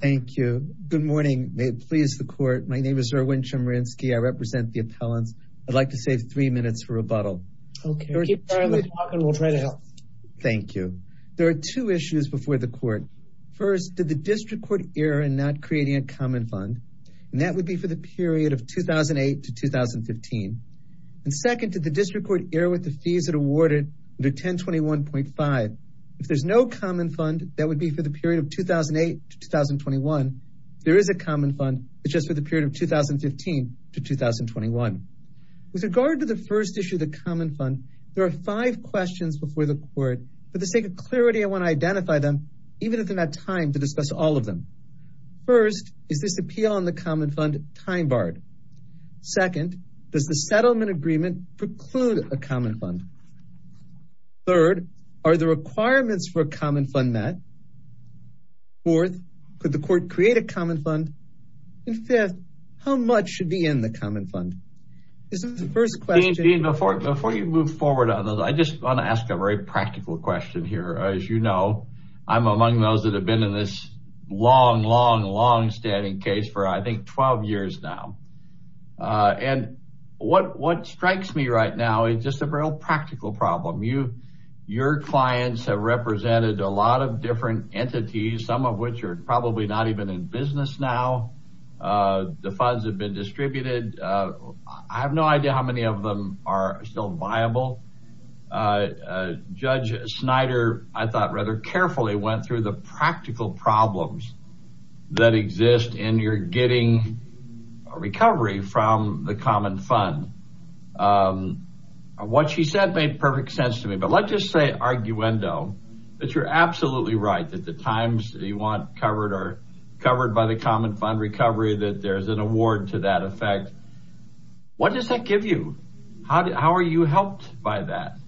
Thank you. Good morning. May it please the court. My name is Erwin Chemerinsky. I represent the appellants. I'd like to save three minutes for rebuttal. Okay, we'll try to help. Thank you. There are two issues before the court. First, did the district court err in not creating a common fund? And that would be for the period of 2008 to 2015. And second, did the district court err with the fees it awarded under 1021.5? If there's no common fund, that would be for the there is a common fund, it's just for the period of 2015 to 2021. With regard to the first issue, the common fund, there are five questions before the court. For the sake of clarity, I want to identify them, even if they're not time to discuss all of them. First, is this appeal on the common fund time barred? Second, does the settlement agreement preclude a common fund? Third, are the requirements for a common fund met? Fourth, could the court create a common fund? And fifth, how much should be in the common fund? This is the first question. Dean, before you move forward on those, I just want to ask a very practical question here. As you know, I'm among those that have been in this long, long, long standing case for I think 12 years now. And what strikes me right now is just a real practical problem. Your clients have represented a lot of different entities, some of which are probably not even in business now. The funds have been distributed. I have no idea how many of them are still viable. Judge Snyder, I thought rather carefully, went through the practical problems that exist in your getting a recovery from the common fund. What she said made perfect sense to me. But let's just say arguendo, that you're absolutely right, that the times you want covered are covered by the common fund recovery, that there's an award to that effect. What does that give you? How are you helped by that?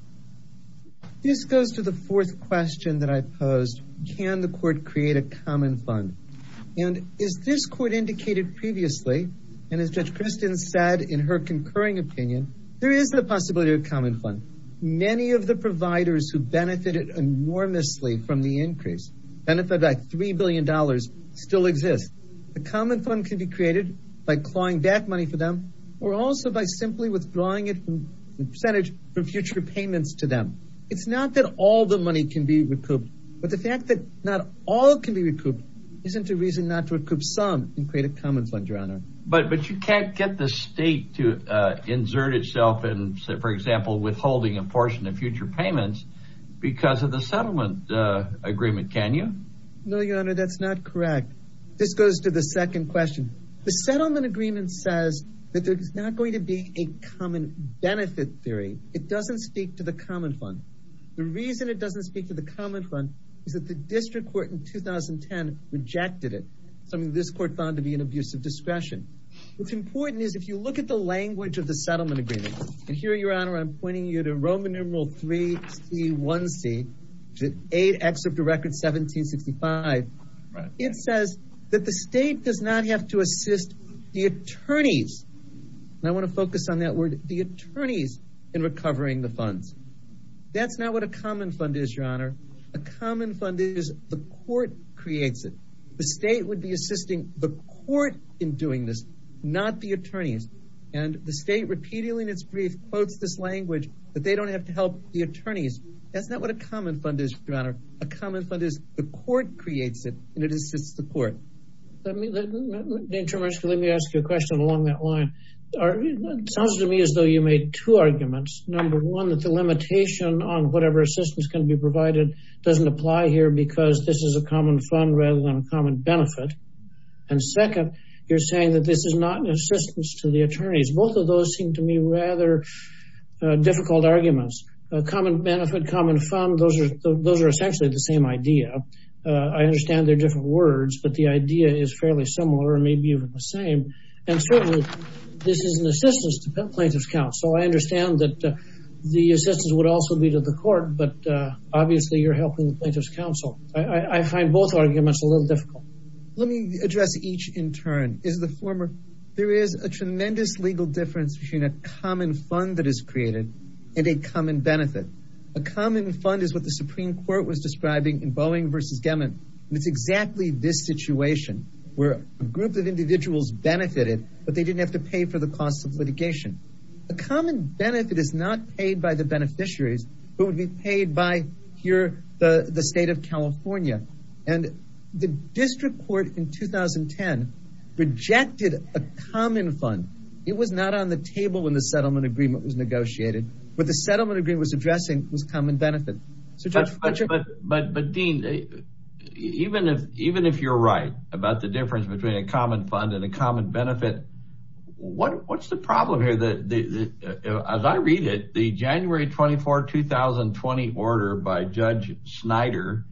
This goes to the fourth question that I posed. Can the court create a common fund? And as this court indicated previously, and as Judge Kristen said in her concurring opinion, there is the possibility of a common fund. Many of the providers who benefited enormously from the increase, benefited by $3 billion, still exist. The common fund can be created by clawing back money for them, or also by simply withdrawing a percentage from future payments to them. It's not that all the money can be recouped, but the fact that not all can be recouped isn't a reason not to recoup some and create a common fund, your honor. But you can't get the state to insert itself in, for example, withholding a portion of future payments because of the settlement agreement, can you? No, your honor, that's not correct. This goes to the second question. The settlement agreement says that there is not going to be a common benefit theory. It doesn't speak to the common fund. The reason it doesn't speak to the common fund is that the district court in 2010 rejected it, something this court found to be an abuse of discretion. What's important is if you look at the language of the settlement agreement, and here your honor I'm pointing you to Roman numeral 3C1C, which is 8 excerpt of record 1765, it says that the state does not have to assist the attorneys, and I want to your honor, a common fund is the court creates it. The state would be assisting the court in doing this, not the attorneys, and the state repeatedly in its brief quotes this language that they don't have to help the attorneys. That's not what a common fund is, your honor. A common fund is the court creates it and it assists the court. Let me ask you a question along that line. Sounds to me as though you made two arguments. Number one, that the limitation on whatever assistance can be provided doesn't apply here because this is a common fund rather than a common benefit, and second, you're saying that this is not an assistance to the attorneys. Both of those seem to me rather difficult arguments. A common benefit, common fund, those are essentially the same idea. I understand they're different words, but the idea is fairly similar and maybe even the same, and certainly this is an assistance to plaintiff's counsel. I understand that the assistance would also be to the court, but obviously you're helping the plaintiff's counsel. I find both arguments a little difficult. Let me address each in turn. There is a tremendous legal difference between a common fund that is created and a common benefit. A common fund is what the Supreme Court was describing in Boeing versus Gemin. It's exactly this situation where a group of individuals benefited, but they didn't have to pay for the costs of litigation. A common benefit is not paid by the beneficiaries, but would be paid by here, the state of California, and the district court in 2010 rejected a common fund. It was not on the table when the settlement agreement was negotiated. What the settlement agreement was addressing was common benefit. But Dean, even if you're right about the difference between a common fund and a common benefit, what's the problem here? As I read it, the January 24, 2020 order by Judge Snyder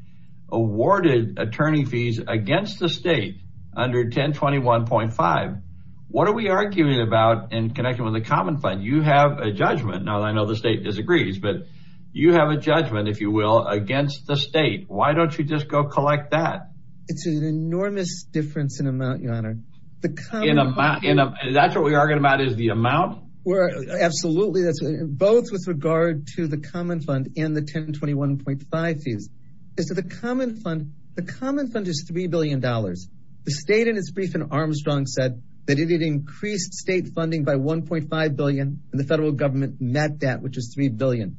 awarded attorney fees against the state under 1021.5. What are we arguing about in connection with the common fund? You have a judgment. Now, I know the state disagrees, but you have a judgment, if you will, against the state. Why don't you just go collect that? It's an enormous difference in amount, your honor. That's what we're arguing about, is the amount? Absolutely, both with regard to the common fund and the 1021.5 fees. The common fund is $3 billion. The state in its brief in Armstrong said that it had increased state funding by $1.5 billion, and the federal government met that, which is $3 billion.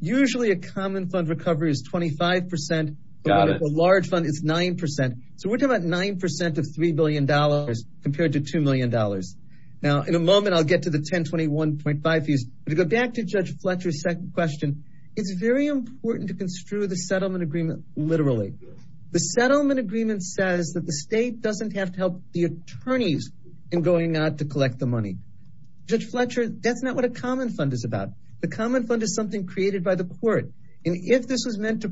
Usually, a common fund recovery is 25%, but with a large fund, it's 9%. We're talking about 9% of $3 billion compared to $2 million. In a moment, I'll get to the 1021.5 fees. To go back to Judge Fletcher's second question, it's very important to construe the settlement agreement literally. The settlement agreement says that the state doesn't have to help the attorneys in going out to collect the money. Judge Fletcher, that's not what a common fund is about. The common fund is something created by the court. If this was meant to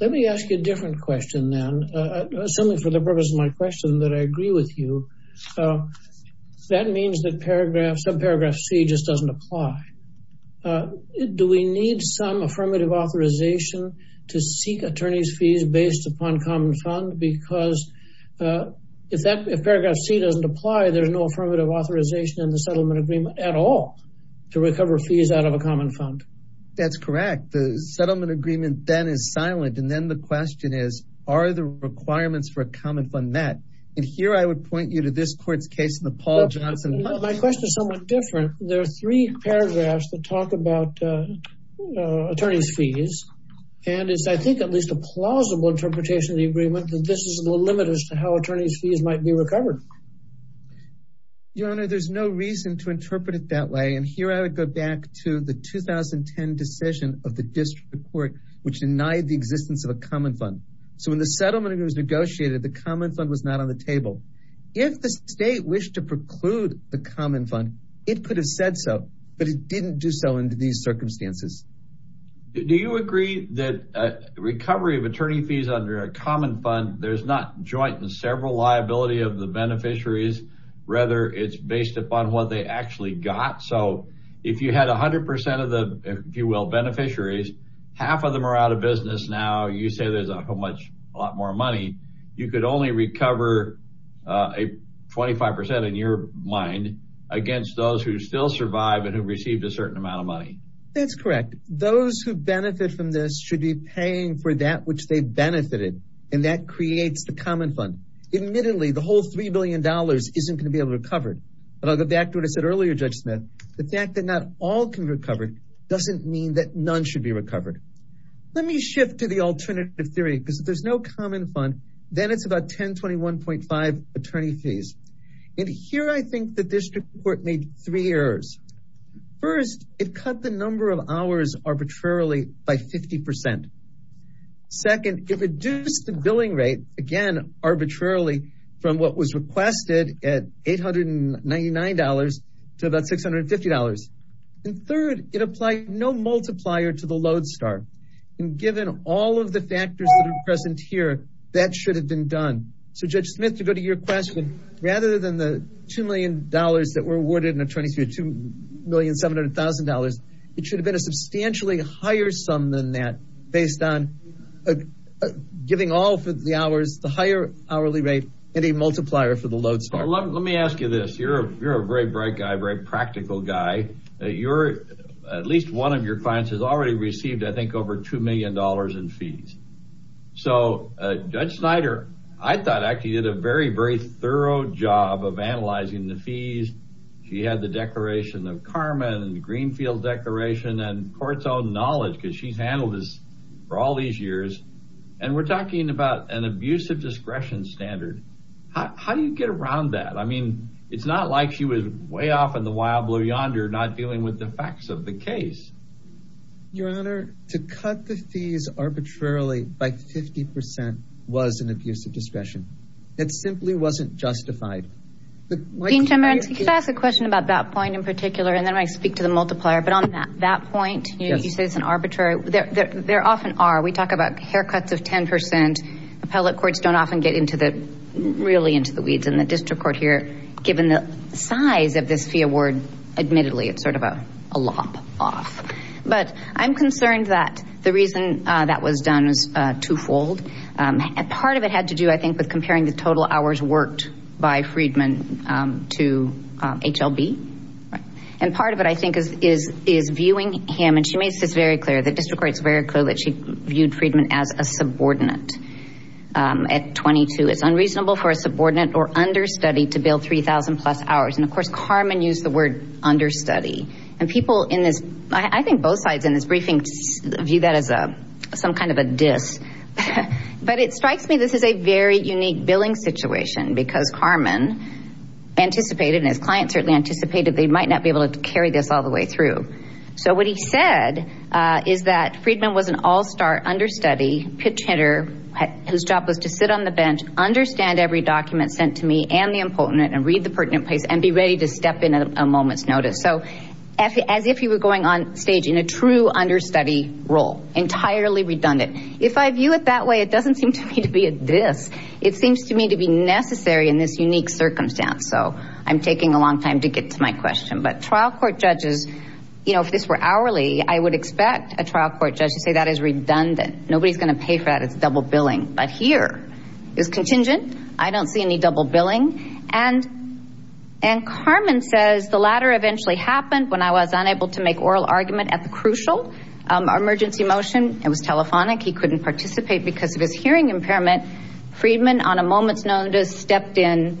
Let me ask you a different question then. Assuming for the purpose of my question that I agree with you, that means that subparagraph C just doesn't apply. Do we need some affirmative authorization to seek attorney's fees based upon common fund? Because if paragraph C doesn't apply, there's no affirmative authorization in the settlement agreement at all to recover fees out of a common fund. That's correct. The settlement agreement then is silent. Then the question is, are the requirements for a common fund met? Here, I would point you to this court's case in the Paul Johnson- My question is somewhat different. There are three paragraphs that talk about attorney's fees. It's, I think, at least a plausible interpretation of the agreement that this is a little limit as to how attorney's fees might be recovered. Your Honor, there's no reason to interpret it that way. Here, I would go back to the 2010 decision of the district court, which denied the existence of a common fund. When the settlement agreement was negotiated, the common fund was not on the table. If the state wished to preclude the common fund, it could have said so, but it didn't do so under these circumstances. Do you agree that recovery of attorney fees under a common fund, there's not joint and actually got? If you had 100% of the, if you will, beneficiaries, half of them are out of business now. You say there's a whole lot more money. You could only recover 25% in your mind against those who still survive and who received a certain amount of money. That's correct. Those who benefit from this should be paying for that which they benefited. That creates the common fund. Admittedly, the whole $3 billion isn't going to be able to recover. I'll go back to earlier, Judge Smith, the fact that not all can recover doesn't mean that none should be recovered. Let me shift to the alternative theory because if there's no common fund, then it's about 1021.5 attorney fees. Here, I think the district court made three errors. First, it cut the number of hours arbitrarily by 50%. Second, it reduced the billing rate, again, arbitrarily from what was to about $650. Third, it applied no multiplier to the load start. Given all of the factors that are present here, that should have been done. Judge Smith, to go to your question, rather than the $2 million that were awarded in attorney fees, $2,700,000, it should have been a substantially higher sum than that based on giving all for the hours, the higher hourly rate, and a multiplier for the load start. Let me ask you this. You're a very bright guy, a very practical guy. At least one of your clients has already received, I think, over $2 million in fees. Judge Snyder, I thought, actually, did a very, very thorough job of analyzing the fees. She had the Declaration of Karma and the Greenfield Declaration and court's own knowledge because she's handled this for all years. We're talking about an abusive discretion standard. How do you get around that? I mean, it's not like she was way off in the wild blue yonder not dealing with the facts of the case. Your Honor, to cut the fees arbitrarily by 50% was an abusive discretion. It simply wasn't justified. Dean Chemerinsky, could I ask a question about that point in particular, and then I speak to the multiplier. But on that point, you say it's an arbitrary. There often are. We talk about haircuts of 10%. Appellate courts don't often get really into the weeds. In the district court here, given the size of this fee award, admittedly, it's sort of a lop off. But I'm concerned that the reason that was done was twofold. Part of it had to do, I think, with comparing the total right. And part of it, I think, is viewing him, and she makes this very clear, the district court's very clear that she viewed Friedman as a subordinate at 22. It's unreasonable for a subordinate or understudy to bill 3,000 plus hours. And of course, Karman used the word understudy. And people in this, I think both sides in this briefing, view that as some kind of a diss. But it strikes me this is a very unique billing situation because Karman anticipated, his client certainly anticipated, they might not be able to carry this all the way through. So what he said is that Friedman was an all-star understudy, pitch hitter, whose job was to sit on the bench, understand every document sent to me and the impotent, and read the pertinent place, and be ready to step in at a moment's notice. So as if he were going on stage in a true understudy role, entirely redundant. If I view it that way, it doesn't seem to me to be a diss. It seems to me to be necessary in this unique circumstance. So I'm taking a long time to get to my question. But trial court judges, if this were hourly, I would expect a trial court judge to say that is redundant. Nobody's going to pay for that. It's double billing. But here is contingent. I don't see any double billing. And Karman says the latter eventually happened when I was unable to make oral argument at the crucial emergency motion. It was telephonic. He couldn't participate because of his hearing impairment. Friedman, on a moment's notice, stepped in,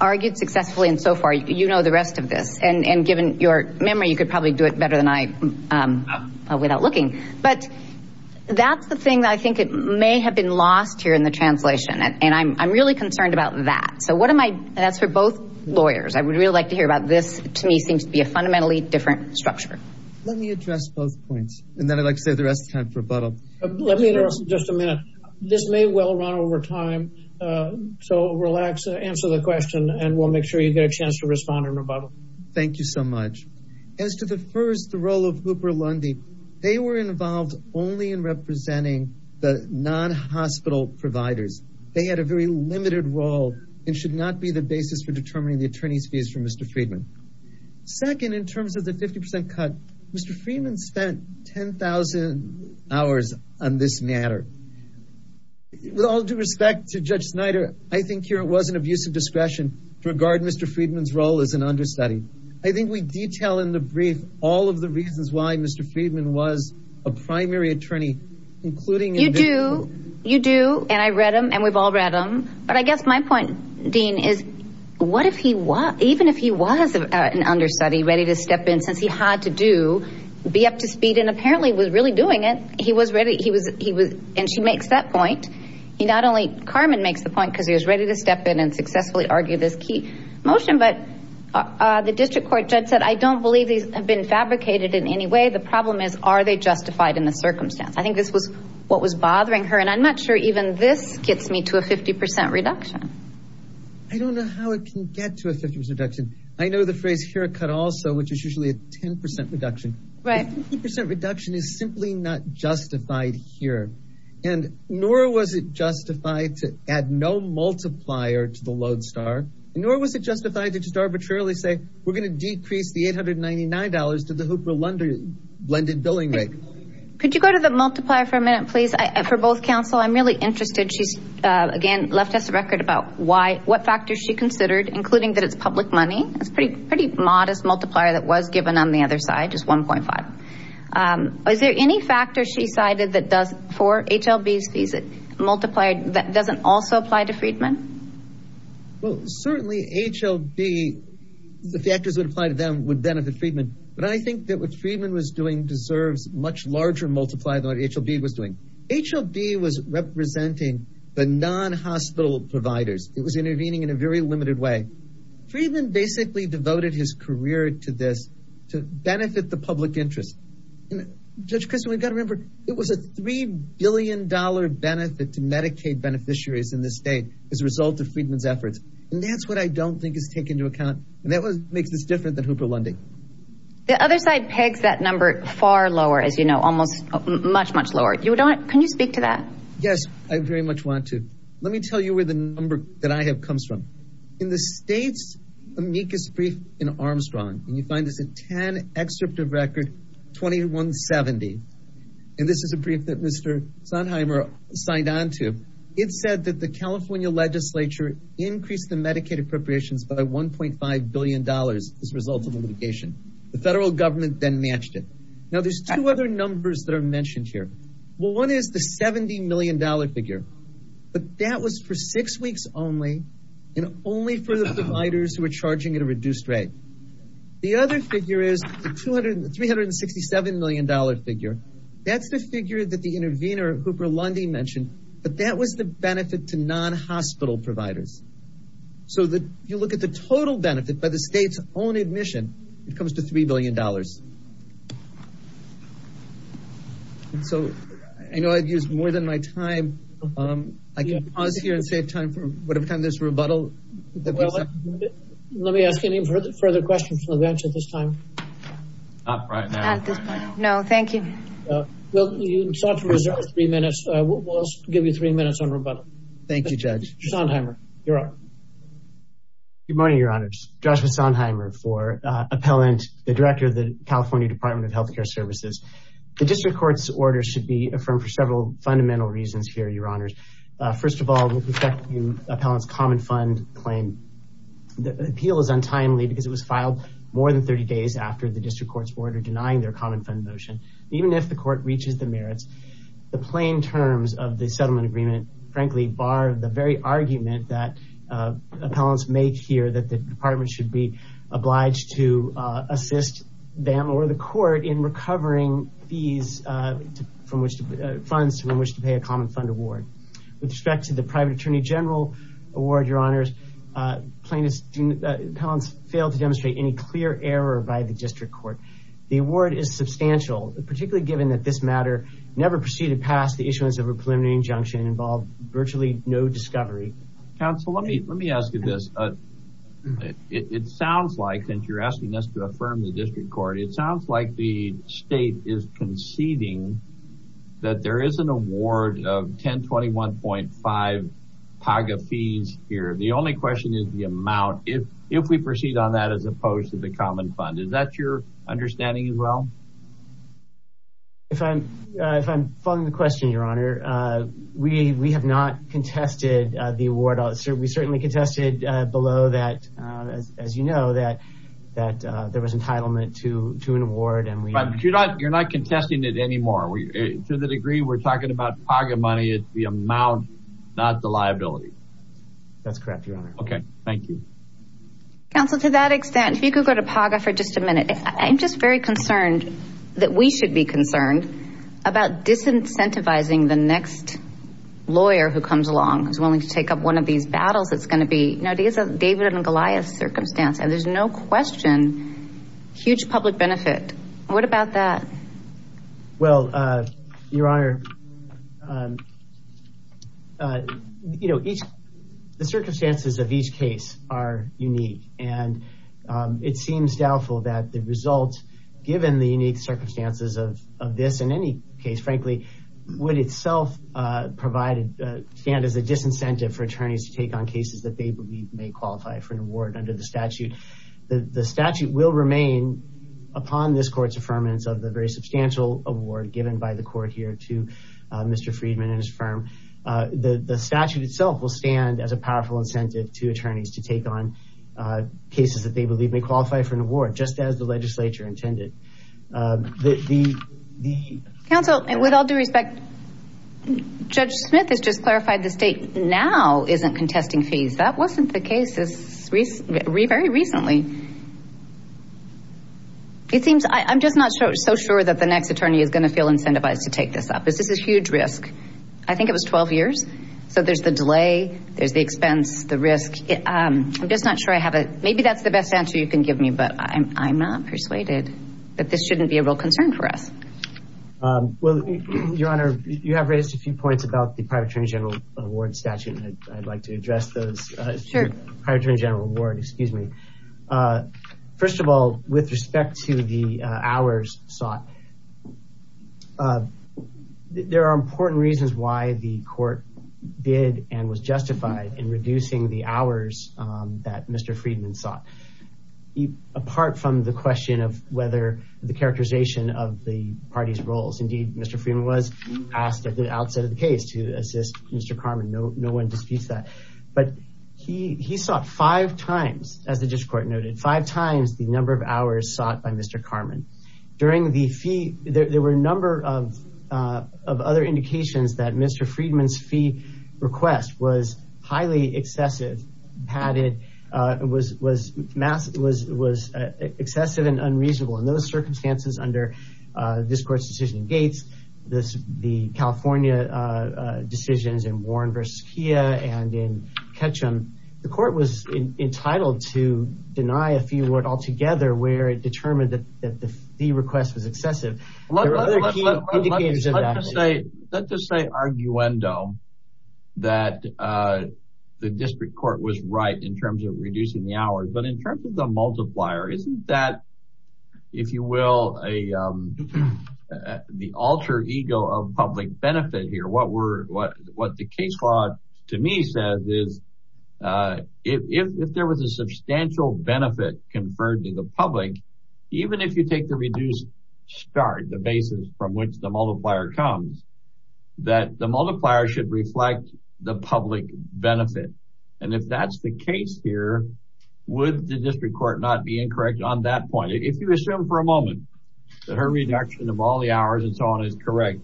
argued successfully, and so far, you know the rest of this. And given your memory, you could probably do it better than I without looking. But that's the thing that I think may have been lost here in the translation. And I'm really concerned about that. So what am I, that's for both lawyers. I would really like to hear about this. To me, seems to be a fundamentally different structure. Let me address both points. And then I'd like to save the rest of time for rebuttal. Let me address just a minute. This may well run over time. So relax, answer the question, and we'll make sure you get a chance to respond and rebuttal. Thank you so much. As to the first, the role of Hooper Lundy, they were involved only in representing the non-hospital providers. They had a very limited role and should not be the basis for determining the attorney's fees for Mr. Friedman. Second, in terms of the 50% cut, Mr. Friedman spent 10,000 hours on this matter. With all due respect to Judge Snyder, I think here it was an abuse of discretion to regard Mr. Friedman's role as an understudy. I think we detail in the brief all of the reasons why Mr. Friedman was a primary attorney, including- You do. You do. And I read him and we've all read him. But I guess my point, Dean, is what if he was an understudy ready to step in, since he had to be up to speed and apparently was really doing it, he was ready. And she makes that point. He not only- Carmen makes the point because he was ready to step in and successfully argue this key motion. But the district court judge said, I don't believe these have been fabricated in any way. The problem is, are they justified in the circumstance? I think this was what was bothering her. And I'm not sure even this gets me to a 50% reduction. I don't know how it can get to a 50% reduction. I know the phrase haircut also, which is usually a 10% reduction. Right. A 50% reduction is simply not justified here. And nor was it justified to add no multiplier to the Lodestar, nor was it justified to just arbitrarily say, we're going to decrease the $899 to the Hooper-Lunder blended billing rate. Could you go to the multiplier for a minute, please? For both counsel, I'm really interested. Again, left us a record about what factors she considered, including that it's public money. It's a pretty modest multiplier that was given on the other side, just 1.5. Is there any factor she cited that does for HLB's fees that doesn't also apply to Friedman? Well, certainly HLB, the factors that apply to them would benefit Friedman. But I think that what Friedman was doing deserves much larger multiplier than what HLB was doing. HLB was representing the non-hospital providers. It was intervening in a very limited way. Friedman basically devoted his career to this, to benefit the public interest. Judge Christin, we've got to remember, it was a $3 billion benefit to Medicaid beneficiaries in this state as a result of Friedman's efforts. And that's what I don't think is taken into account. And that makes this different than Hooper-Lunding. The other side pegs that number far lower, almost much, much lower. Can you speak to that? Yes, I very much want to. Let me tell you where the number that I have comes from. In the state's amicus brief in Armstrong, and you find this in 10 Excerpt of Record 2170. And this is a brief that Mr. Sonheimer signed on to. It said that the California legislature increased the Medicaid appropriations by $1.5 billion as a result of litigation. The federal government then matched it. Now there's two other numbers that are mentioned here. Well, one is the $70 million figure. But that was for six weeks only, and only for the providers who are charging at a reduced rate. The other figure is the $367 million figure. That's the figure that the intervener, Hooper-Lunding, mentioned. But that was the benefit to non-hospital providers. So if you look at the total benefit by the state's own admission, it comes to $3 billion. And so I know I've used more than my time. I can pause here and save time for whatever time there's a rebuttal. Let me ask any further questions from the bench at this time. Not at this time. No, thank you. Well, you sought to reserve three minutes. We'll give you three minutes on rebuttal. Thank you, Judge. Sonheimer, you're up. Good morning, Your Honors. Joshua Sonheimer for Appellant, the Director of the California Department of Health Care Services. The District Court's order should be affirmed for several fundamental reasons here, Your Honors. First of all, with respect to Appellant's common fund claim, the appeal is untimely because it was filed more than 30 days after the District Court's order denying their common fund motion. Even if the court reaches the merits, the plain terms of Appellant's make here that the department should be obliged to assist them or the court in recovering funds from which to pay a common fund award. With respect to the private attorney general award, Your Honors, Appellant's failed to demonstrate any clear error by the District Court. The award is substantial, particularly given that this matter never proceeded past the issuance of a preliminary injunction and involved virtually no discovery. Counsel, let me ask you this. It sounds like, since you're asking us to affirm the District Court, it sounds like the state is conceding that there is an award of 1021.5 PAGA fees here. The only question is the amount, if we proceed on that as opposed to the common fund. Is that your understanding as well? If I'm following the question, Your Honor, we have not contested the award. We certainly contested below that, as you know, that there was entitlement to an award. But you're not contesting it anymore. To the degree we're talking about PAGA money, it's the amount, not the liability. That's correct, Your Honor. Okay, thank you. Counsel, to that extent, if you could go to PAGA for just a minute, I'm just very concerned that we should be concerned about disincentivizing the next lawyer who comes along who's willing to take up one of these battles. It's going to be David and Goliath's circumstance, and there's no question, huge public benefit. What about that? Well, Your Honor, the circumstances of each case are unique, and it seems doubtful that the result, given the unique circumstances of this, in any case, frankly, would itself stand as a disincentive for attorneys to take on cases that they believe may qualify for an award under the statute. The statute will remain upon this court's affirmance of the very substantial award given by the court here to Mr. Friedman and his firm. The statute itself will stand as a powerful incentive to attorneys to take on cases that they believe may qualify for an award, just as the legislature intended. Counsel, with all due respect, Judge Smith has just clarified the state now isn't contesting fees. That wasn't the case very recently. It seems, I'm just not so sure that the next attorney is going to feel incentivized to take this up. This is a huge risk. I think it was 12 years, so there's the delay, there's the expense, the risk. I'm just not sure I have a, maybe that's the best answer you can give me, but I'm not persuaded that this shouldn't be a real concern for us. Well, Your Honor, you have raised a few points about the private attorney general award statute, and I'd like to address those. Sure. Private attorney general award, excuse me. Uh, first of all, with respect to the hours sought, there are important reasons why the court did and was justified in reducing the hours that Mr. Friedman sought, apart from the question of whether the characterization of the party's roles. Indeed, Mr. Friedman was asked at the outset of the case to assist Mr. Carmen. No, five times the number of hours sought by Mr. Carmen. During the fee, there were a number of other indications that Mr. Friedman's fee request was highly excessive, padded, was excessive and unreasonable. In those circumstances, under this court's decision in Gates, the California decisions in Warren versus Kia and in Ketchum, the court was entitled to deny a fee award altogether where it determined that the fee request was excessive. Let's just say arguendo that the district court was right in terms of reducing the hours. But in what the case law to me says is, if there was a substantial benefit conferred to the public, even if you take the reduced start, the basis from which the multiplier comes, that the multiplier should reflect the public benefit. And if that's the case here, would the district court not be incorrect on that point? If you assume for a moment that her reduction of all the hours and so on is correct,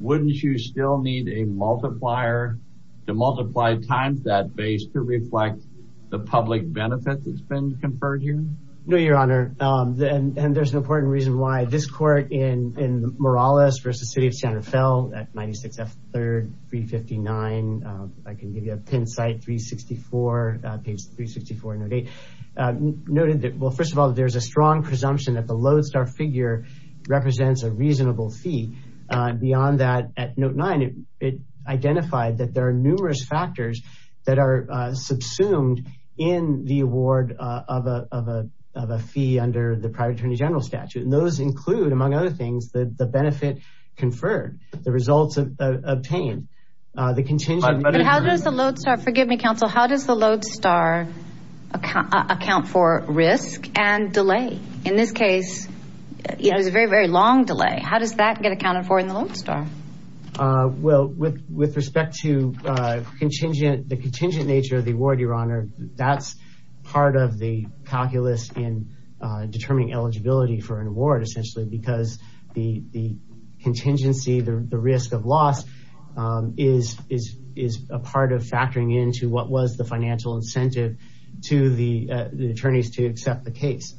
wouldn't you still need a multiplier to multiply times that base to reflect the public benefit that's been conferred here? No, your honor. And there's an important reason why this court in Morales versus the city of Santa Fe at 96F3, 359, I can give you a pin site, 364, page 364, noted that, well, first of all, there's a strong presumption that the Lodestar figure represents a reasonable fee. Beyond that, at note nine, it identified that there are numerous factors that are subsumed in the award of a fee under the private attorney general statute. And those include, among other things, the benefit conferred, the results obtained, the contingent. How does the Lodestar, forgive me, counsel, how does the Lodestar account for risk and delay? In this case, it was a very, very long delay. How does that get accounted for in the Lodestar? Well, with respect to contingent, the contingent nature of the award, your honor, that's part of the calculus in determining eligibility for an award, essentially, because the contingency, the risk of loss, is a part of factoring into what was the financial incentive to the attorneys to accept the case.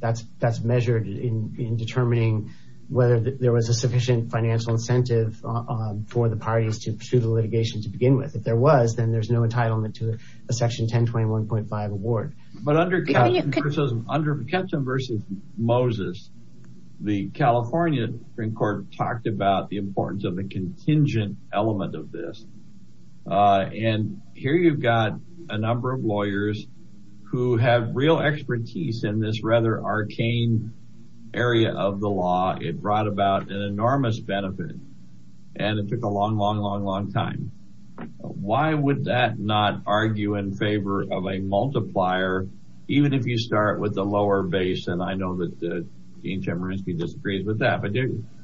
That's measured in determining whether there was a sufficient financial incentive for the parties to pursue the litigation to begin with. If there was, then there's no entitlement to a section 1021.5 award. But under Captain versus Moses, the California Supreme Court talked about the importance of the contingent element of this. And here you've got a number of lawyers who have real expertise in this rather arcane area of the law. It brought about an enormous benefit, and it took a long, long, long, long time. Why would that not argue in favor of a multiplier, even if you start with the lower base? And I know Dean Chemerinsky disagrees with that. But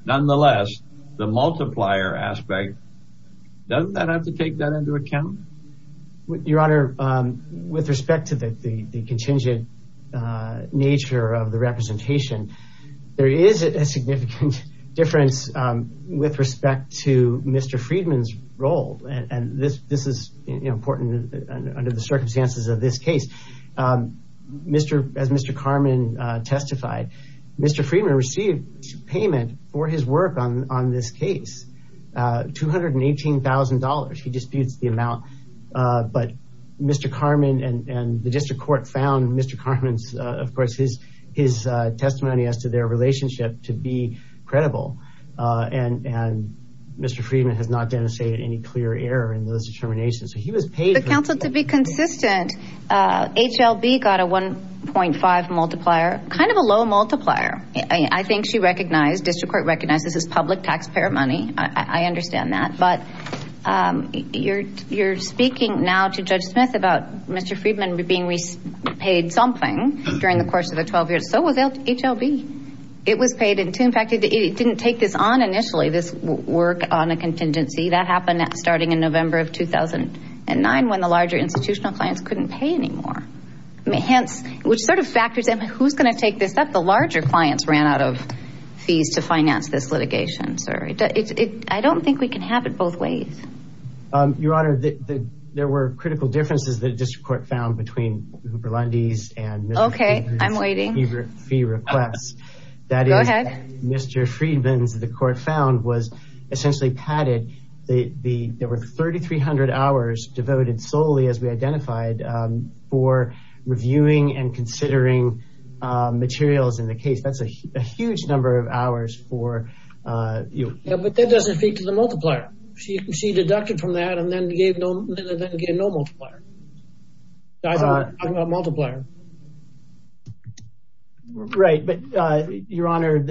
nonetheless, the multiplier aspect, doesn't that have to take that into account? Your honor, with respect to the contingent nature of the representation, there is a significant difference with respect to Mr. Friedman's role. And this is important under the circumstances of this case. As Mr. Karman testified, Mr. Friedman received payment for his work on this case, $218,000. He disputes the amount. But Mr. Karman and the district court found Mr. Karman's, of course, his testimony as to their relationship to be credible. And Mr. Friedman has not denunciated any clear error in those determinations. So he was paid- Counsel, to be consistent, HLB got a 1.5 multiplier, kind of a low multiplier. I think she recognized, district court recognized, this is public taxpayer money. I understand that. But you're speaking now to Judge Smith about Mr. Friedman being paid something during the course of the 12 years. So was HLB. It was paid in tune. In fact, it didn't take this on initially, this work on a contingency. That happened starting in November of 2009 when the larger institutional clients couldn't pay anymore. Hence, which sort of factors in, who's going to take this up? The larger clients ran out of fees to finance this litigation, sir. I don't think we can have it both ways. Your Honor, there were critical differences that the district court found between Huber-Lundy's and Mr. Friedman's fee requests. Okay, I'm waiting. Go ahead. Mr. Friedman's, the court found, was essentially padded. There were 3,300 hours devoted solely, as we identified, for reviewing and considering materials in the case. That's a huge number of hours for you. Yeah, but that doesn't speak to the multiplier. She deducted from that and then gave no multiplier. I'm talking about multiplier. Right, but Your Honor,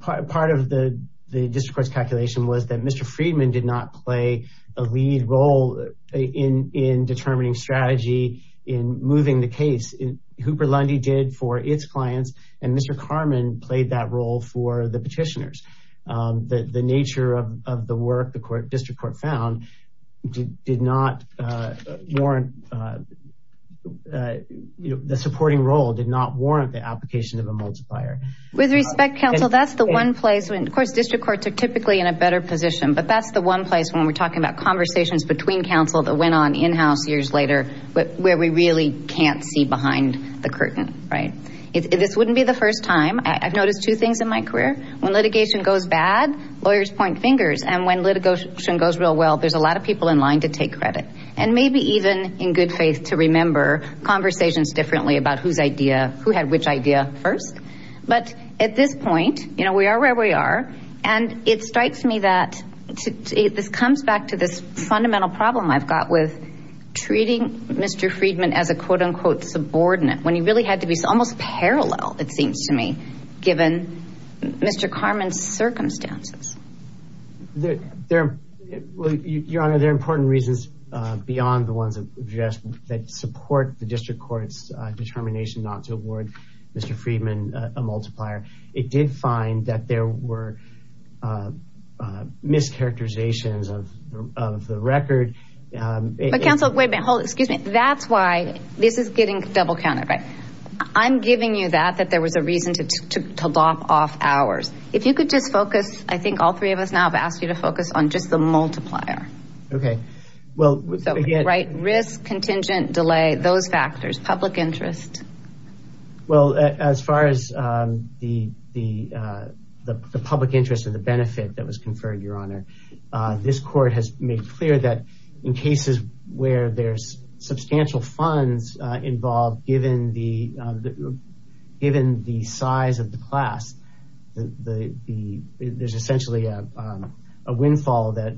part of the district court's calculation was that Mr. Friedman did not play a lead role in determining strategy in moving the case. Huber-Lundy did for its clients, and Mr. Karman played that role for the petitioners. The nature of the work the district court found did not warrant, the supporting role did not warrant the application of a multiplier. With respect, counsel, that's the one place when, of course, district courts are typically in a better position, but that's the one place when we're talking about conversations between counsel that went on in-house years later where we really can't see behind the curtain, right? This wouldn't be the first time. I've noticed two things in my career. When litigation goes bad, lawyers point fingers, and when litigation goes real well, there's a lot of people in line to take credit, and maybe even, in good faith, to remember conversations differently about who had which idea first. But at this point, we are where we are, and it strikes me that this comes back to this fundamental problem I've got with treating Mr. Friedman as a, quote-unquote, subordinate, when he really had to be almost parallel, it seems to me, given Mr. Karman's circumstances. Your Honor, there are important reasons beyond the ones that support the district court's determination not to award Mr. Friedman a multiplier. It did find that there were mischaracterizations of the record. But counsel, wait a minute. Hold it. Excuse me. That's why this is getting double-counted, right? I'm giving you that, that there was a reason to lop off hours. If you could just focus, I think all three of us now have asked you to focus on just the multiplier. Okay. Well, again, right? Risk, contingent, delay, those factors, public interest. Well, as far as the public interest or the benefit that was conferred, Your Honor, this court has made clear that in cases where there's substantial funds involved, given the size of the class, there's essentially a windfall that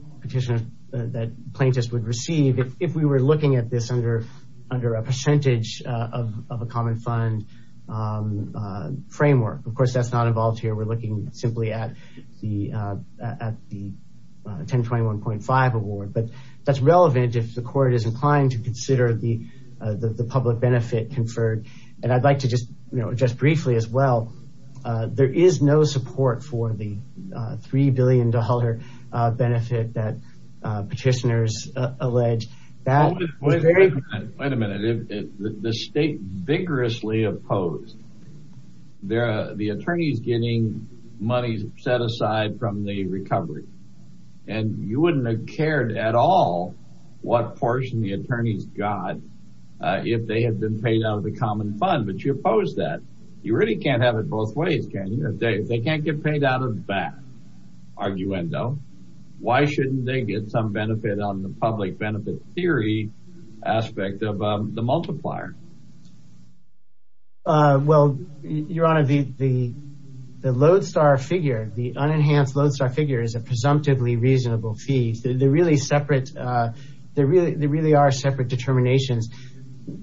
plaintiffs would receive if we were looking at this under a percentage of a common fund framework. Of course, that's not involved here. We're looking simply at the 1021.5 award, but that's relevant if the court is inclined to consider the public benefit conferred. And I'd like to just briefly as well, there is no support for the $3 billion benefit that petitioners allege. Wait a minute. Wait a minute. The state vigorously opposed the attorneys getting money set aside from the recovery. And you wouldn't have cared at all what portion the attorneys got if they had been paid out of the common fund, but you oppose that. You really can't have it both ways, can you? They can't get paid out of that, arguendo. Why shouldn't they get some benefit on the public benefit theory aspect of the multiplier? Well, Your Honor, the Lodestar figure, the unenhanced Lodestar figure is a presumptively reasonable fee. They're really separate. They really are separate determinations.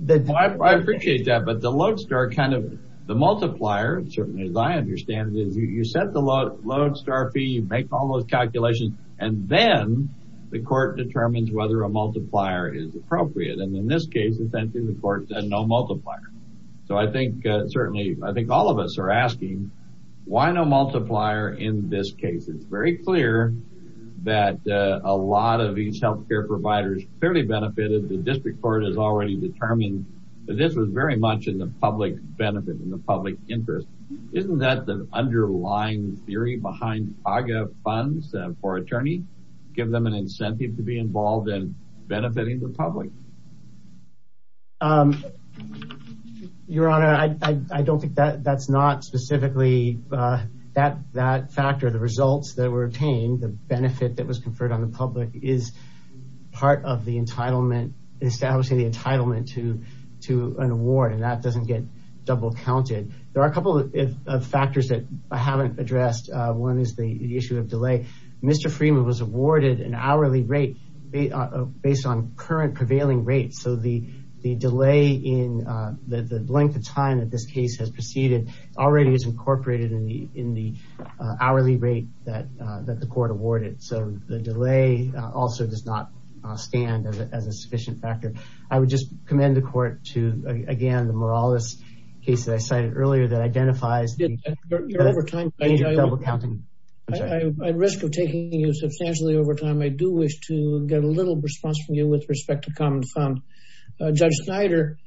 I appreciate that, but the Lodestar kind of, the multiplier, certainly as I understand it, you set the Lodestar fee, you make all those calculations, and then the court determines whether a multiplier is appropriate. And in this case, essentially the court said no multiplier. So I think certainly, I think all of us are asking, why no multiplier in this case? It's very clear that a lot of these health care providers clearly benefited. The district court has already determined that this was very much in the public benefit, in the public interest. Isn't that the underlying theory behind AGA funds for attorney? Give them an incentive to be involved in benefiting the public? Your Honor, I don't think that's not specifically that factor. The results that were obtained, the benefit that was conferred on the public is part of the entitlement, establishing the entitlement to an award, and that doesn't get double counted. There are a couple of factors that I haven't addressed. One is the issue of delay. Mr. Freeman was awarded an hourly rate based on current prevailing rates. So the delay in the length of time that this case has proceeded already is incorporated in the hourly rate that the court awarded. So the delay also does not stand as a sufficient factor. I would just commend the court to, again, the Morales case that I cited earlier that identifies the double counting. At risk of taking you substantially over time, I do wish to get a little response from you with respect to common fund. Judge Snyder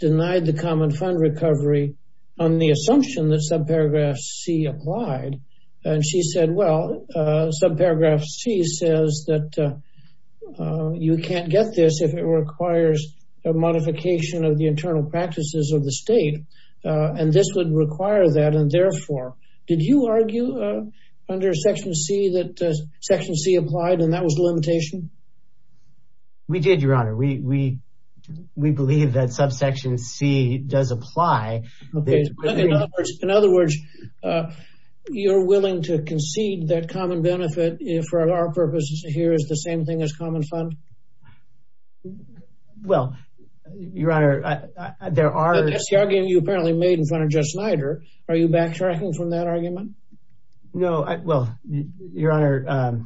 denied the common fund recovery on the assumption that subparagraph C applied. And she said, well, subparagraph C says that you can't get this if it requires a modification of the internal practices of the state. And this would require that. And therefore, did you argue under section C that section C applied and that was the limitation? We did, Your Honor. We believe that subsection C does apply. In other words, you're willing to concede that common benefit for our purposes here is the same as common fund? Well, Your Honor, there are... The argument you apparently made in front of Judge Snyder, are you backtracking from that argument? No. Well, Your Honor,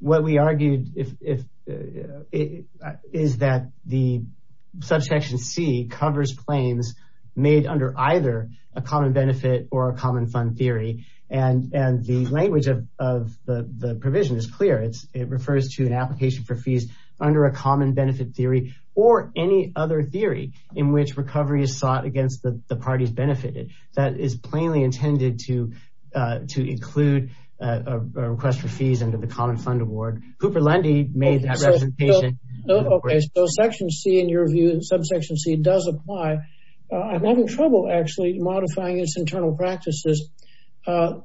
what we argued is that the subsection C covers claims made under either a common benefit or a common fund theory. And the language of the provision is clear. It refers to an application for fees under a common benefit theory or any other theory in which recovery is sought against the parties benefited. That is plainly intended to include a request for fees under the common fund award. Hooper Lundy made that representation. Okay. So section C, in your view, subsection C does apply. I'm having trouble actually modifying its internal practices,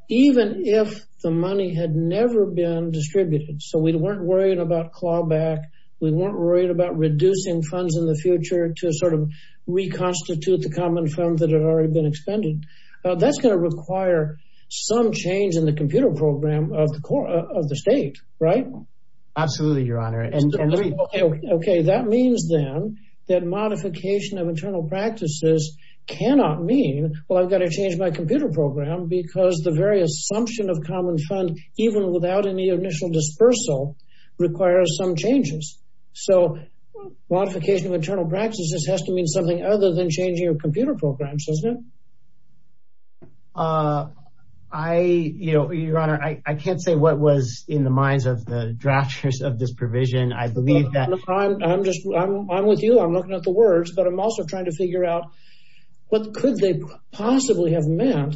even if the money had never been distributed. So we weren't worried about clawback. We weren't worried about reducing funds in the future to sort of reconstitute the common fund that had already been expended. That's going to require some change in the computer program of the state, right? Absolutely, Your Honor. Okay. That means then that modification of internal practices cannot mean, well, I've got to change my computer program because the very assumption of common fund even without any initial dispersal requires some changes. So modification of internal practices has to mean something other than changing your computer programs, doesn't it? Uh, I, you know, Your Honor, I can't say what was in the minds of the drafters of this provision. I believe that... I'm just, I'm with you. I'm looking at the words, but I'm also trying to figure out what could they possibly have meant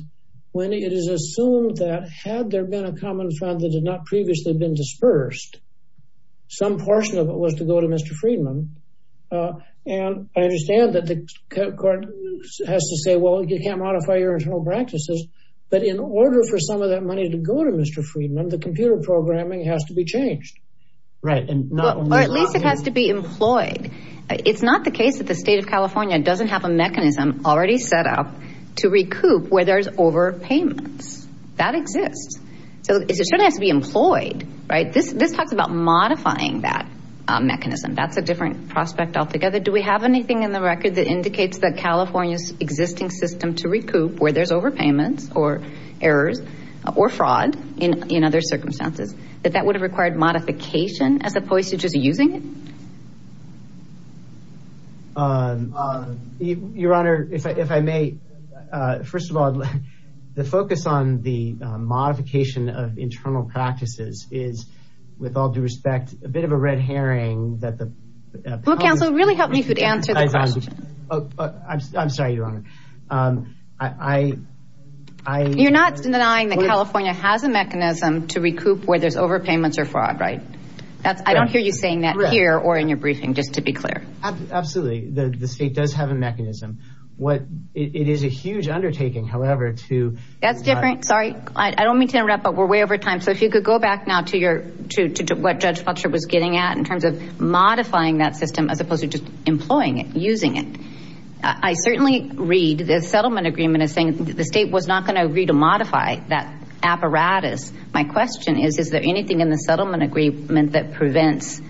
when it is assumed that had there been a common fund that had not previously been dispersed, some portion of it was to go to Mr. Friedman. Uh, and I understand that the court has to say, well, you can't modify your internal practices, but in order for some of that money to go to Mr. Friedman, the computer programming has to be changed. Right. Or at least it has to be employed. It's not the case that the state of California doesn't have a mechanism already set up to recoup where there's overpayments. That exists. So it certainly has to be employed, right? This, this talks about modifying that mechanism. That's a prospect altogether. Do we have anything in the record that indicates that California's existing system to recoup where there's overpayments or errors or fraud in, in other circumstances, that that would have required modification as opposed to just using it? Um, uh, Your Honor, if I, if I may, uh, first of all, the focus on the modification of internal practices is with all due respect, a bit of a red herring that the. Well, counsel really helped me to answer the question. Oh, I'm sorry, Your Honor. Um, I, I, I, you're not denying that California has a mechanism to recoup where there's overpayments or fraud, right? That's, I don't hear you saying that here or in your briefing, just to be clear. Absolutely. The state does have a mechanism. What it is a huge undertaking, however, to. That's different. Sorry. I don't mean to but we're way over time. So if you could go back now to your, to, to what Judge Fletcher was getting at in terms of modifying that system, as opposed to just employing it, using it. I certainly read the settlement agreement is saying that the state was not going to agree to modify that apparatus. My question is, is there anything in the settlement agreement that prevents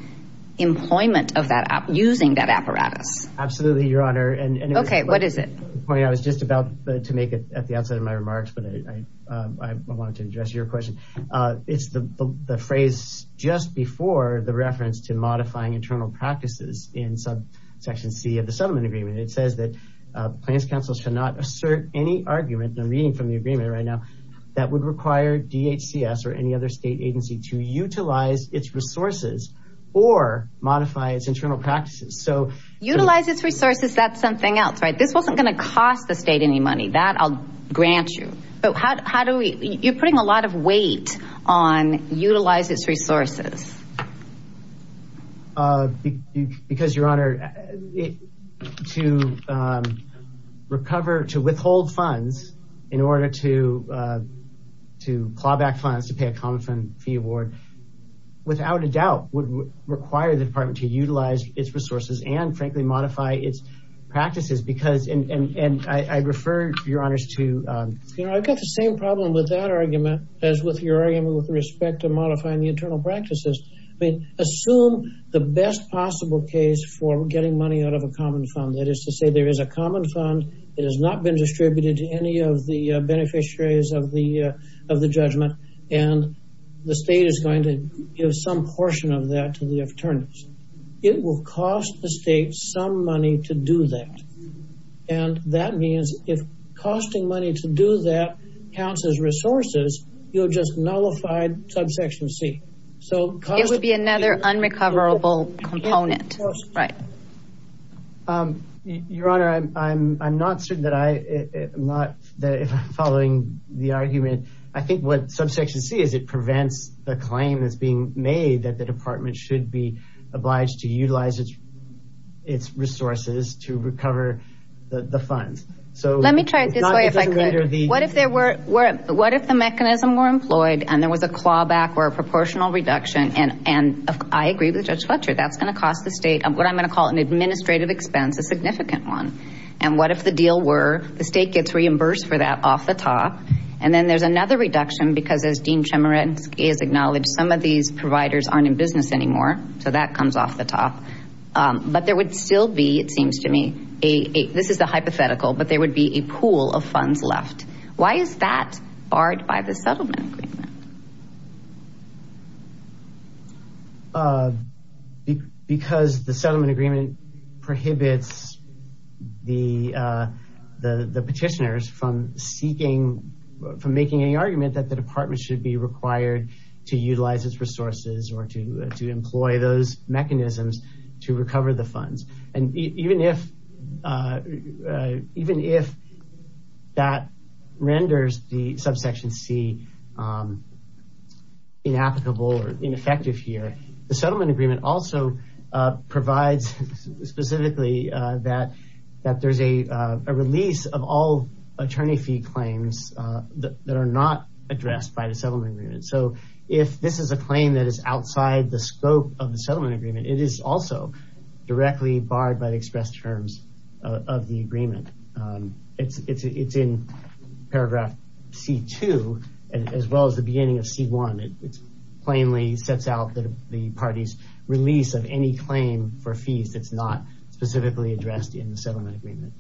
employment of that app using that apparatus? Absolutely, Your Honor. And okay. What is it? I was just about to make it at the outset of my remarks, but I, I wanted to address your question. Uh, it's the, the, the phrase just before the reference to modifying internal practices in subsection C of the settlement agreement. It says that, uh, plans counsel should not assert any argument. I'm reading from the agreement right now that would require DHCS or any other state agency to utilize its resources or modify its internal practices. So utilize its resources. That's something else, right? This wasn't going to cost the state any money that I'll grant you, but how, how do we, you're putting a lot of weight on utilize its resources. Uh, because Your Honor, it, to, um, recover, to withhold funds in order to, uh, to claw back funds, to pay a common fund fee award without a doubt would require the department to utilize its resources and modify its practices because, and, and, and I, I refer Your Honors to, um... You know, I've got the same problem with that argument as with your argument with respect to modifying the internal practices. I mean, assume the best possible case for getting money out of a common fund. That is to say there is a common fund. It has not been distributed to any of the beneficiaries of the, uh, of the judgment. And the state is going to give some portion of that to the attorneys. It will cost the state some money to do that. And that means if costing money to do that counts as resources, you'll just nullify subsection C. So... It would be another unrecoverable component. Right. Um, Your Honor, I'm, I'm, I'm not certain that I am not following the argument. I think what subsection C is, it prevents the claim that's being made that the state should be obliged to utilize its, its resources to recover the, the funds. So... Let me try it this way if I could. What if there were, were, what if the mechanism were employed and there was a clawback or a proportional reduction and, and I agree with Judge Fletcher, that's going to cost the state what I'm going to call an administrative expense, a significant one. And what if the deal were the state gets reimbursed for that off the top? And then there's another reduction because as Dean Chemerinsky has acknowledged, some of these providers aren't in business anymore. So that comes off the top. Um, but there would still be, it seems to me, a, a, this is the hypothetical, but there would be a pool of funds left. Why is that barred by the settlement agreement? Uh, because the settlement agreement prohibits the, uh, the, the petitioners from seeking, from making any argument that the department should be required to utilize its resources or to, uh, to employ those mechanisms to recover the funds. And even if, uh, uh, even if that renders the subsection C, um, inapplicable or ineffective here, the settlement agreement also, uh, provides specifically, uh, that, that there's a, uh, a release of all attorney fee claims, uh, that are not addressed by the settlement agreement. So if this is a claim that is outside the scope of the settlement agreement, it is also directly barred by the express terms of the agreement. Um, it's, it's, it's in paragraph C2 as well as the beginning of C1. It's plainly sets out that the party's release of any claim for fees that's not specifically addressed in the settlement agreement.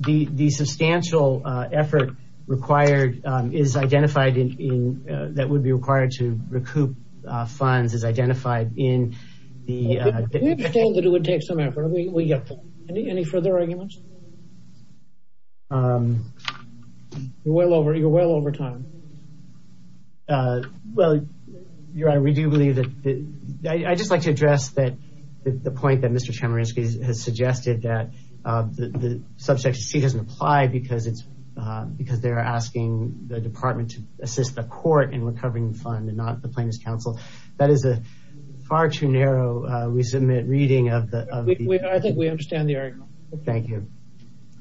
The, the substantial, uh, effort required, um, is identified in, in, uh, that would be required to recoup, uh, funds is identified in the, uh. We understand that it would take some effort. We, we get that. Any, any further arguments? Um, you're well over, you're well over time. Um, uh, well, your honor, we do believe that the, I just like to address that the point that Mr. Chemerinsky has suggested that, uh, the, the subject C doesn't apply because it's, uh, because they're asking the department to assist the court in recovering the fund and not the plaintiff's counsel. That is a far too narrow, uh, resubmit reading of the, of the... I think we understand the argument. Thank you.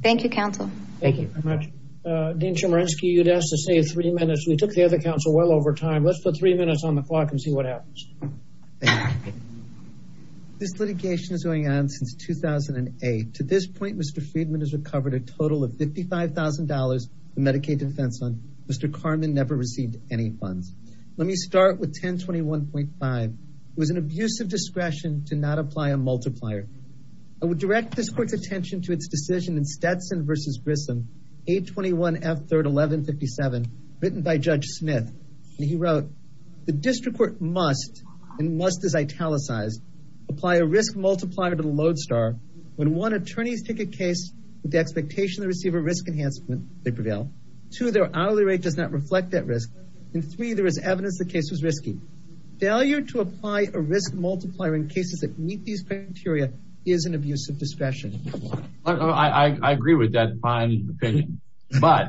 Thank you counsel. Thank you very much. Uh, Dean Chemerinsky, you'd ask to save three minutes. We took the other counsel well over time. Let's put three minutes on the clock and see what happens. Thank you. This litigation is going on since 2008. To this point, Mr. Friedman has recovered a total of $55,000 from Medicaid defense fund. Mr. Carmen never received any funds. Let me start with 1021.5. It was an abuse of discretion to not apply a multiplier. I would direct this court's attention to its decision in Stetson versus Grissom, 821 F3rd 1157, written by Judge Smith. And he wrote, the district court must, and must is italicized, apply a risk multiplier to the lodestar. When one attorney's take a case with the expectation they receive a risk enhancement, they prevail. Two, their hourly rate does not reflect that risk. And three, there is evidence the case was risky. Failure to apply a risk multiplier in cases that meet these criteria is an abuse of discretion. I, I, I agree with that. But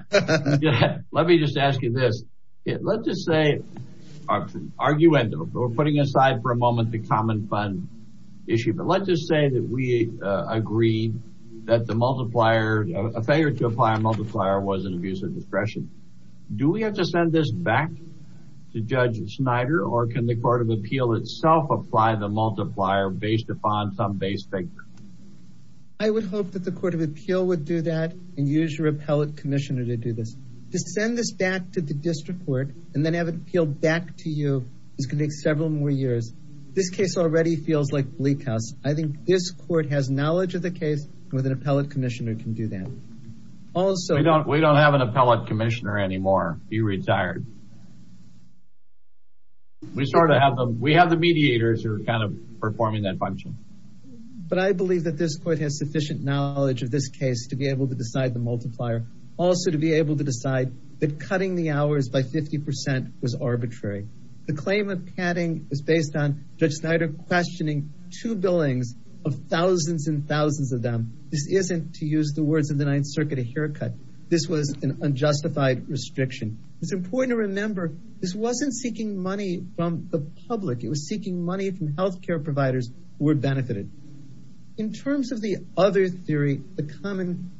let me just ask you this. Let's just say, argument, we're putting aside for a moment the common fund issue, but let's just say that we agree that the multiplier, a failure to apply a multiplier was an abuse of discretion. Do we have to send this back to Judge Snyder or can the court of appeal itself apply the multiplier based upon some base figure? I would hope that court of appeal would do that and use your appellate commissioner to do this. To send this back to the district court and then have it appealed back to you is going to take several more years. This case already feels like bleak house. I think this court has knowledge of the case with an appellate commissioner can do that. Also, we don't, we don't have an appellate commissioner anymore. He retired. We sort of have the, we have the mediators who are kind of to be able to decide the multiplier. Also to be able to decide that cutting the hours by 50% was arbitrary. The claim of padding is based on Judge Snyder questioning two billings of thousands and thousands of them. This isn't to use the words of the ninth circuit, a haircut. This was an unjustified restriction. It's important to remember this wasn't seeking money from the public. It was the common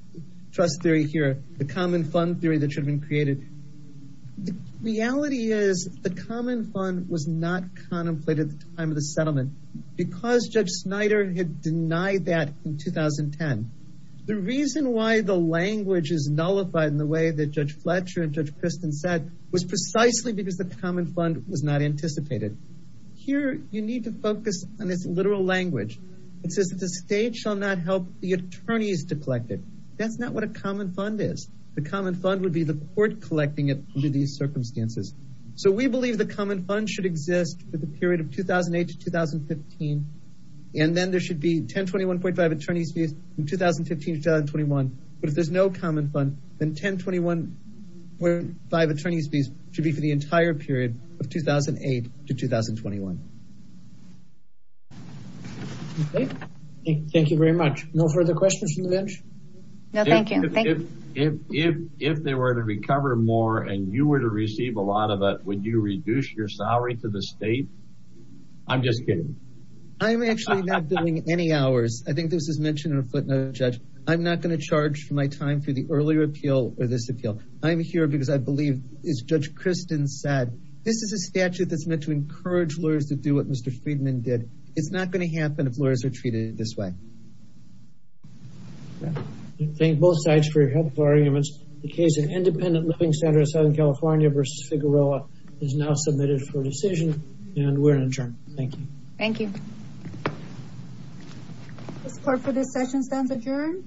trust theory here, the common fund theory that should have been created. Reality is the common fund was not contemplated at the time of the settlement because Judge Snyder had denied that in 2010. The reason why the language is nullified in the way that Judge Fletcher and Judge Kristen said was precisely because the common fund was not anticipated. Here you need to focus on this literal language. It says that the state shall not help the attorneys to collect it. That's not what a common fund is. The common fund would be the court collecting it under these circumstances. So we believe the common fund should exist for the period of 2008 to 2015. And then there should be 1021.5 attorneys fees in 2015 to 2021. But if there's no common fund, then 1021.5 attorneys fees should be for the entire period of 2008 to 2021. Okay, thank you very much. No further questions from the bench? No, thank you. If they were to recover more and you were to receive a lot of it, would you reduce your salary to the state? I'm just kidding. I'm actually not doing any hours. I think this is mentioned in a footnote, Judge. I'm not going to charge for my time for the earlier appeal or this appeal. I'm here because I believe as Judge Kristen said, this is a statute that's meant to encourage lawyers to do what Mr. Friedman did. It's not going to happen if lawyers are treated this way. Thank both sides for your helpful arguments. The case of Independent Living Center in Southern California versus Figueroa is now submitted for decision and we're adjourned. Thank you. Thank you. This part for this session stands adjourned.